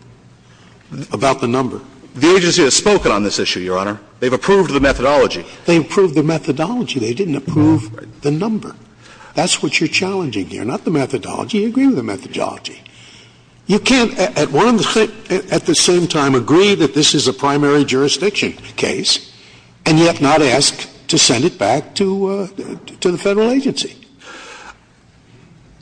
about the number. The agency has spoken on this issue, Your Honor. They've approved the methodology. They approved the methodology. They didn't approve the number. That's what you're challenging here, not the methodology. You agree with the methodology. You can't at one of the ---- at the same time agree that this is a primary jurisdiction case and yet not ask to send it back to the Federal agency.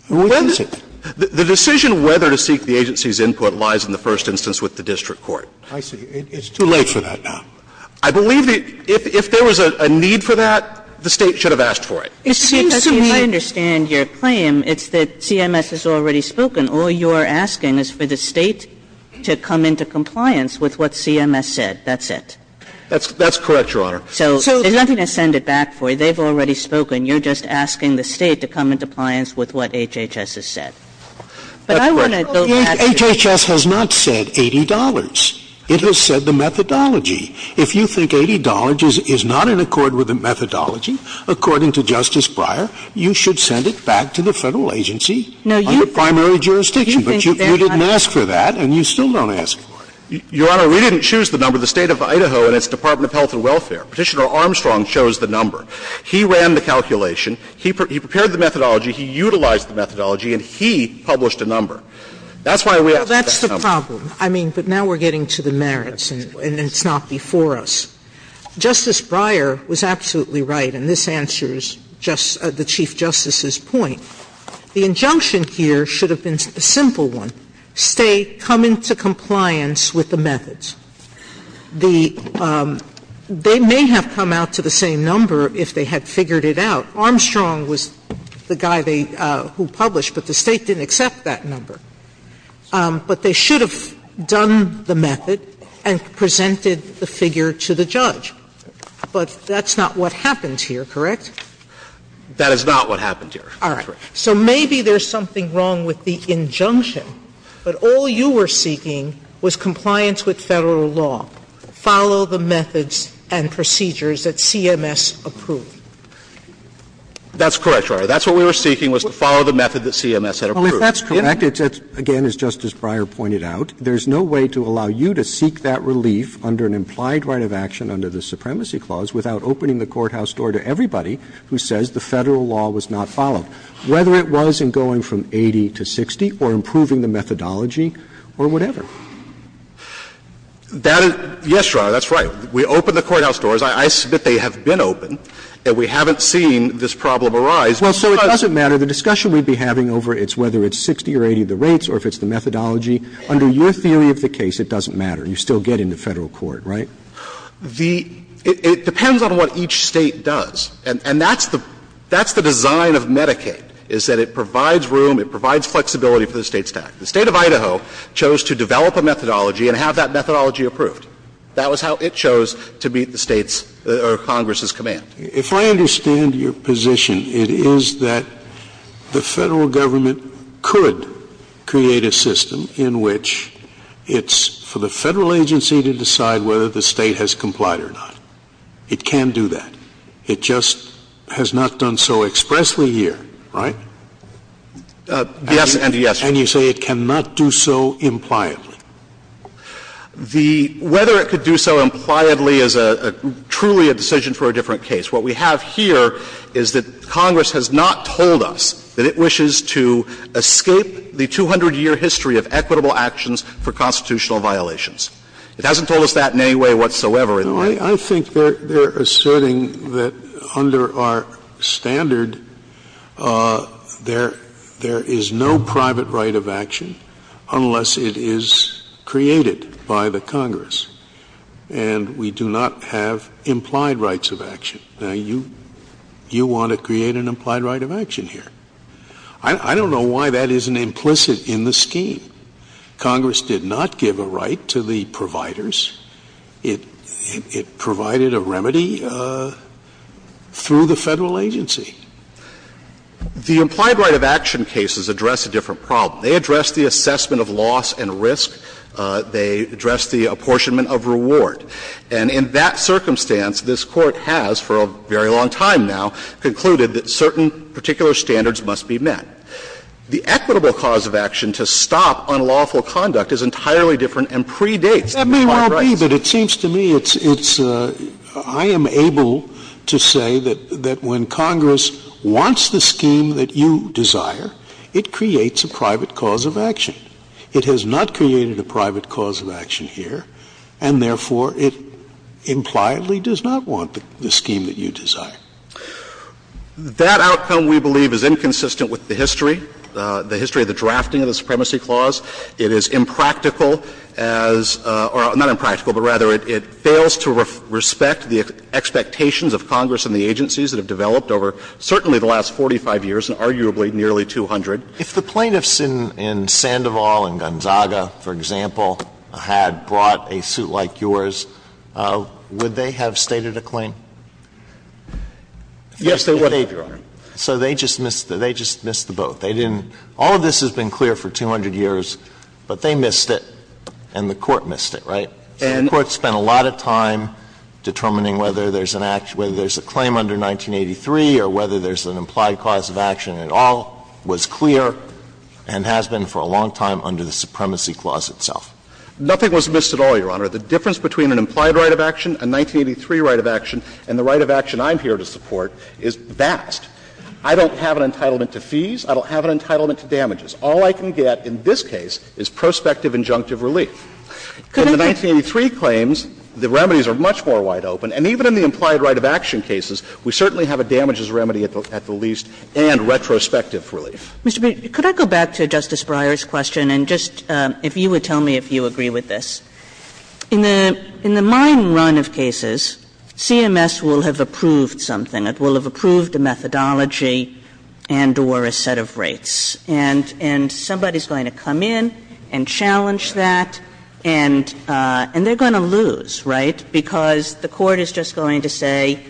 The decision whether to seek the agency's input lies in the first instance with the district court. I see. It's too late for that now. I believe that if there was a need for that, the State should have asked for it. It seems to me ---- Justice, I understand your claim. It's that CMS has already spoken. All you're asking is for the State to come into compliance with what CMS said. That's it. That's correct, Your Honor. So there's nothing to send it back for. They've already spoken. You're just asking the State to come into compliance with what HHS has said. But I want to go back to the ---- HHS has not said $80. It has said the methodology. If you think $80 is not in accord with the methodology, according to Justice Breyer, you should send it back to the Federal agency under primary jurisdiction. But you didn't ask for that and you still don't ask for it. Your Honor, we didn't choose the number. The State of Idaho and its Department of Health and Welfare, Petitioner Armstrong chose the number. He ran the calculation. He prepared the methodology. He utilized the methodology. And he published a number. That's why we asked for that number. Sotomayor, I mean, but now we're getting to the merits and it's not before us. Justice Breyer was absolutely right, and this answers just the Chief Justice's point. The injunction here should have been a simple one. State, come into compliance with the methods. The ---- they may have come out to the same number if they had figured it out. Armstrong was the guy they ---- who published, but the State didn't accept that number. But they should have done the method and presented the figure to the judge. But that's not what happened here, correct? That is not what happened here. All right. So maybe there's something wrong with the injunction, but all you were seeking was compliance with Federal law. Follow the methods and procedures that CMS approved. That's correct, Your Honor. That's what we were seeking was to follow the method that CMS had approved. Well, if that's correct, it's again, as Justice Breyer pointed out, there's no way to allow you to seek that relief under an implied right of action under the supremacy clause without opening the courthouse door to everybody who says the Federal law was not followed, whether it was in going from 80 to 60 or improving the methodology or whatever. That is ---- yes, Your Honor, that's right. We opened the courthouse doors. I submit they have been opened, and we haven't seen this problem arise because of ---- Well, so it doesn't matter. The discussion we'd be having over whether it's 60 or 80, the rates, or if it's the methodology, under your theory of the case, it doesn't matter. You still get into Federal court, right? The ---- it depends on what each State does. And that's the design of Medicaid, is that it provides room, it provides flexibility for the States to act. The State of Idaho chose to develop a methodology and have that methodology approved. That was how it chose to meet the State's or Congress's command. If I understand your position, it is that the Federal Government could create a system in which it's for the Federal agency to decide whether the State has complied or not. It can do that. It just has not done so expressly here, right? Yes, and yes, Your Honor. And you say it cannot do so impliedly. The whether it could do so impliedly is truly a decision for a different case. What we have here is that Congress has not told us that it wishes to escape the 200-year history of equitable actions for constitutional violations. It hasn't told us that in any way whatsoever in the writing. I think they're asserting that under our standard, there is no private right of action unless it is created by the Congress. And we do not have implied rights of action. Now, you want to create an implied right of action here. I don't know why that isn't implicit in the scheme. Congress did not give a right to the providers. It provided a remedy through the Federal agency. The implied right of action cases address a different problem. They address the assessment of loss and risk. They address the apportionment of reward. And in that circumstance, this Court has, for a very long time now, concluded that certain particular standards must be met. The equitable cause of action to stop unlawful conduct is entirely different and predates the implied rights. Scalia. That may well be, but it seems to me it's — I am able to say that when Congress wants the scheme that you desire, it creates a private cause of action. It has not created a private cause of action here, and therefore, it impliedly does not want the scheme that you desire. That outcome, we believe, is inconsistent with the history, the history of the drafting of the Supremacy Clause. It is impractical as — or not impractical, but rather it fails to respect the expectations of Congress and the agencies that have developed over certainly the last 45 years, and arguably nearly 200. If the plaintiffs in Sandoval and Gonzaga, for example, had brought a suit like yours, would they have stated a claim? Yes, they would, Your Honor. So they just missed the boat. They didn't — all of this has been clear for 200 years, but they missed it and the Court missed it, right? And the Court spent a lot of time determining whether there's an — whether there's a claim under 1983 or whether there's an implied cause of action at all, was clear and has been for a long time under the Supremacy Clause itself. Nothing was missed at all, Your Honor. The difference between an implied right of action, a 1983 right of action, and the right of action I'm here to support is vast. I don't have an entitlement to fees. I don't have an entitlement to damages. All I can get in this case is prospective injunctive relief. In the 1983 claims, the remedies are much more wide open, and even in the implied right of action cases, we certainly have a damages remedy at the least and retrospective relief. Kagan. Kagan. Could I go back to Justice Breyer's question, and just if you would tell me if you agree with this. In the mine run of cases, CMS will have approved something. It will have approved a methodology and or a set of rates. And somebody's going to come in and challenge that, and they're going to lose, right? Because the Court is just going to say,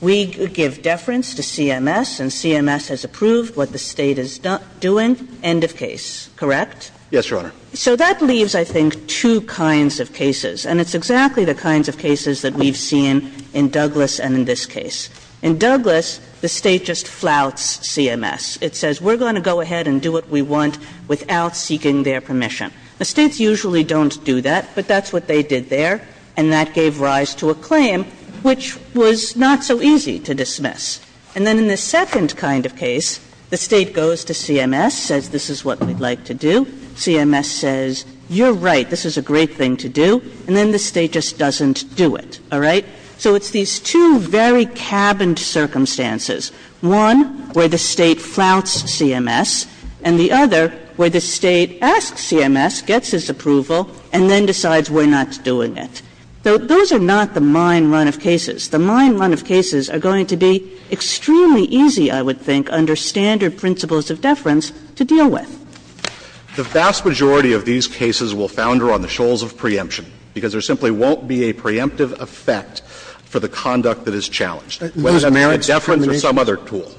we give deference to CMS, and CMS has approved what the State is doing, end of case, correct? Yes, Your Honor. So that leaves, I think, two kinds of cases, and it's exactly the kinds of cases that we've seen in Douglas and in this case. In Douglas, the State just flouts CMS. It says, we're going to go ahead and do what we want without seeking their permission. The States usually don't do that, but that's what they did there, and that gave rise to a claim which was not so easy to dismiss. And then in the second kind of case, the State goes to CMS, says this is what we'd like to do. CMS says, you're right, this is a great thing to do, and then the State just doesn't do it, all right? So it's these two very cabined circumstances, one where the State flouts CMS, and the other where the State asks CMS, gets his approval, and then decides we're not doing it. So those are not the mine run of cases. The mine run of cases are going to be extremely easy, I would think, under standard principles of deference, to deal with. The vast majority of these cases will founder on the shoals of preemption, because there simply won't be a preemptive effect for the conduct that is challenged. Whether it's deference or some other tool. Roberts.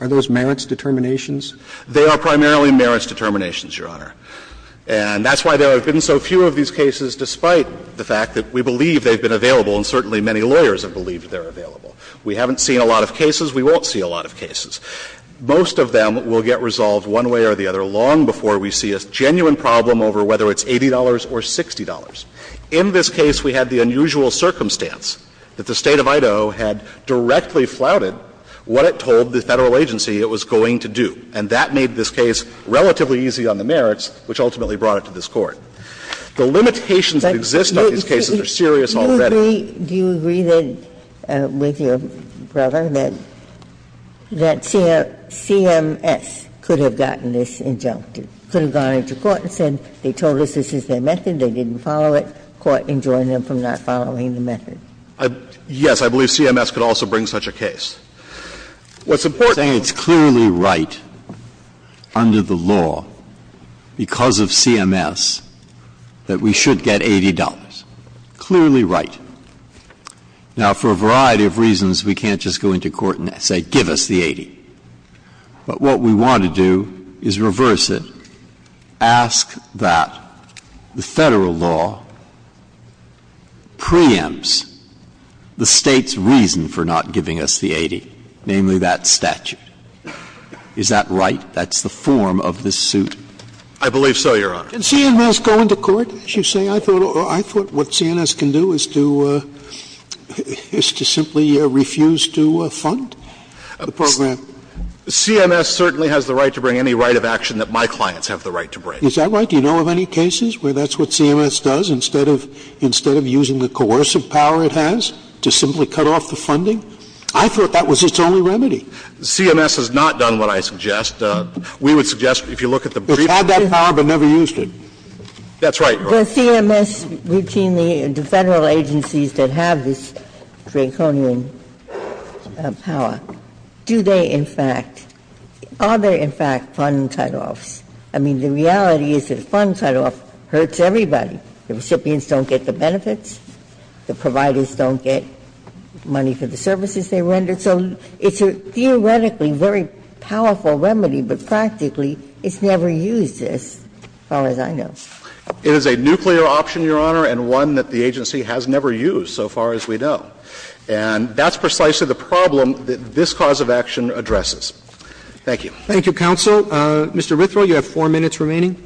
Are those merits determinations? They are primarily merits determinations, Your Honor. And that's why there have been so few of these cases, despite the fact that we believe they've been available, and certainly many lawyers have believed they're available. We haven't seen a lot of cases. We won't see a lot of cases. Most of them will get resolved one way or the other long before we see a genuine problem over whether it's $80 or $60. In this case, we had the unusual circumstance that the State of Idaho had directly flouted what it told the Federal agency it was going to do, and that made this case relatively easy on the merits, which ultimately brought it to this Court. The limitations that exist on these cases are serious already. Ginsburg. Do you agree that, with your brother, that CMS could have gotten this injuncted, could have gone into court and said, they told us this is their method, they didn't follow it, court enjoined them from not following the method? Yes. I believe CMS could also bring such a case. What's important is saying it's clearly right under the law, because of CMS, that we should get $80. Clearly right. Now, for a variety of reasons, we can't just go into court and say, give us the $80. But what we want to do is reverse it, ask that the Federal law preempts the State's reason for not giving us the $80, namely that statute. Is that right? That's the form of this suit? I believe so, Your Honor. Can CMS go into court? As you say, I thought what CMS can do is to simply refuse to fund the program. CMS certainly has the right to bring any right of action that my clients have the right to bring. Is that right? Do you know of any cases where that's what CMS does instead of using the coercive power it has to simply cut off the funding? I thought that was its only remedy. CMS has not done what I suggest. We would suggest, if you look at the briefing. It's had that power but never used it. That's right, Your Honor. The CMS routinely, and the Federal agencies that have this draconian power, do they in fact, are there in fact fund cutoffs? I mean, the reality is that a fund cutoff hurts everybody. The recipients don't get the benefits. The providers don't get money for the services they rendered. So it's a theoretically very powerful remedy, but practically it's never used this far as I know. It is a nuclear option, Your Honor, and one that the agency has never used so far as we know. And that's precisely the problem that this cause of action addresses. Thank you. Thank you, counsel. Mr. Rithro, you have four minutes remaining.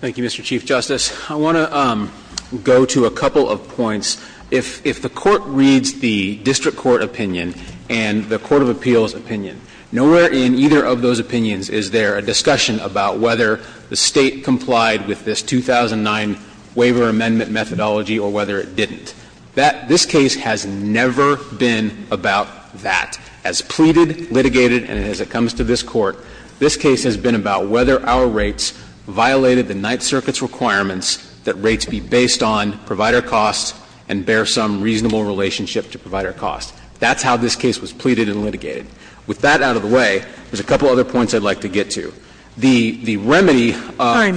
Thank you, Mr. Chief Justice. I want to go to a couple of points. If the Court reads the district court opinion and the court of appeals opinion, nowhere in either of those opinions is there a discussion about whether the State complied with this 2009 waiver amendment methodology or whether it didn't. This case has never been about that. As pleaded, litigated, and as it comes to this Court, this case has been about whether our rates violated the Ninth Circuit's requirements that rates be based on provider costs and bear some reasonable relationship to provider costs. That's how this case was pleaded and litigated. With that out of the way, there's a couple other points I'd like to get to. The remedy of the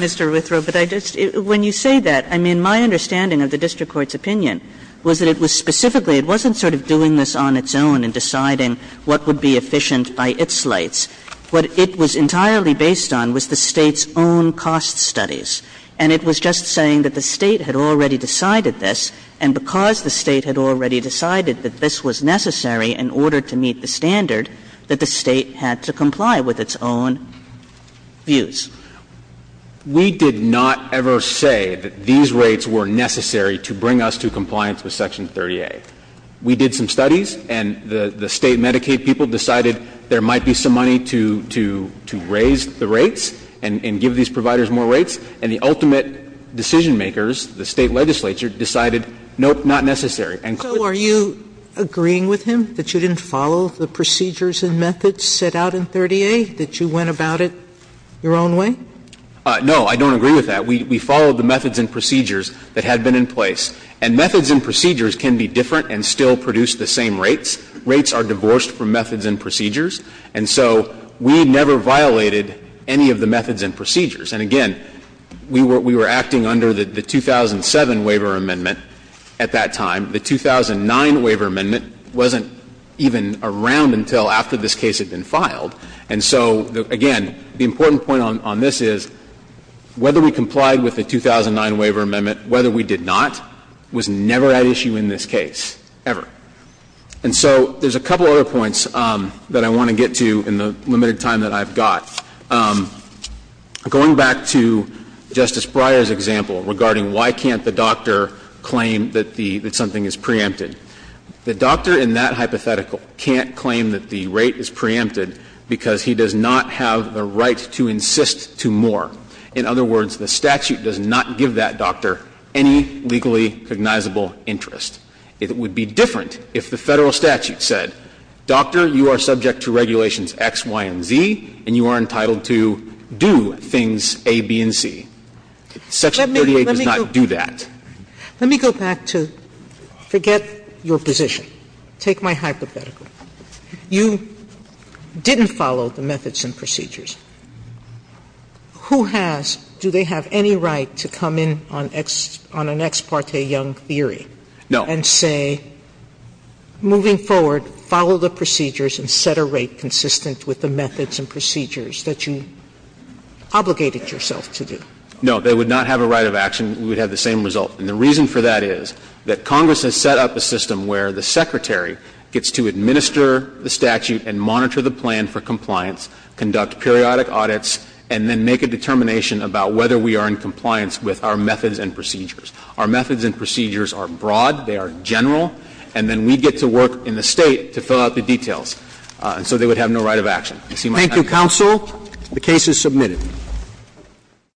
district court opinion was that it was specifically, it wasn't sort of doing this on its own and deciding what would be efficient by its lights. What it was entirely based on was the State's own cost studies, and it was just saying that the State had already decided this, and because the State had already decided that this was necessary in order to meet the standard, that the State had to comply with its own views. We did not ever say that these rates were necessary to bring us to compliance with Section 30A. We did some studies, and the State Medicaid people decided there might be some money to raise the rates and give these providers more rates, and the ultimate decision makers, the State legislature, decided nope, not necessary. And quit. Sotomayor, are you agreeing with him that you didn't follow the procedures and methods set out in 30A, that you went about it your own way? No, I don't agree with that. We followed the methods and procedures that had been in place, and methods and procedures can be different and still produce the same rates. Rates are divorced from methods and procedures, and so we never violated any of the methods and procedures. And again, we were acting under the 2007 waiver amendment at that time. The 2009 waiver amendment wasn't even around until after this case had been filed. And so, again, the important point on this is, whether we complied with the 2009 waiver amendment, whether we did not, was never at issue in this case, ever. And so there's a couple other points that I want to get to in the limited time that I've got. Going back to Justice Breyer's example regarding why can't the doctor claim that the, that something is preempted, the doctor in that hypothetical can't claim that the rate is preempted because he does not have the right to insist to more. In other words, the statute does not give that doctor any legally cognizable interest. It would be different if the Federal statute said, Doctor, you are subject to regulations X, Y, and Z, and you are entitled to do things A, B, and C. Section 38 does not do that. Sotomayor, let me go back to, forget your position, take my hypothetical. You didn't follow the methods and procedures. Who has, do they have any right to come in on X, on an Ex parte Young theory? No. And say, moving forward, follow the procedures and set a rate consistent with the methods and procedures that you obligated yourself to do? No. They would not have a right of action. We would have the same result. And the reason for that is that Congress has set up a system where the Secretary gets to administer the statute and monitor the plan for compliance, conduct periodic audits, and then make a determination about whether we are in compliance with our methods and procedures. Our methods and procedures are broad, they are general, and then we get to work in the State to fill out the details. So they would have no right of action. I see my time is up. Thank you, counsel. The case is submitted.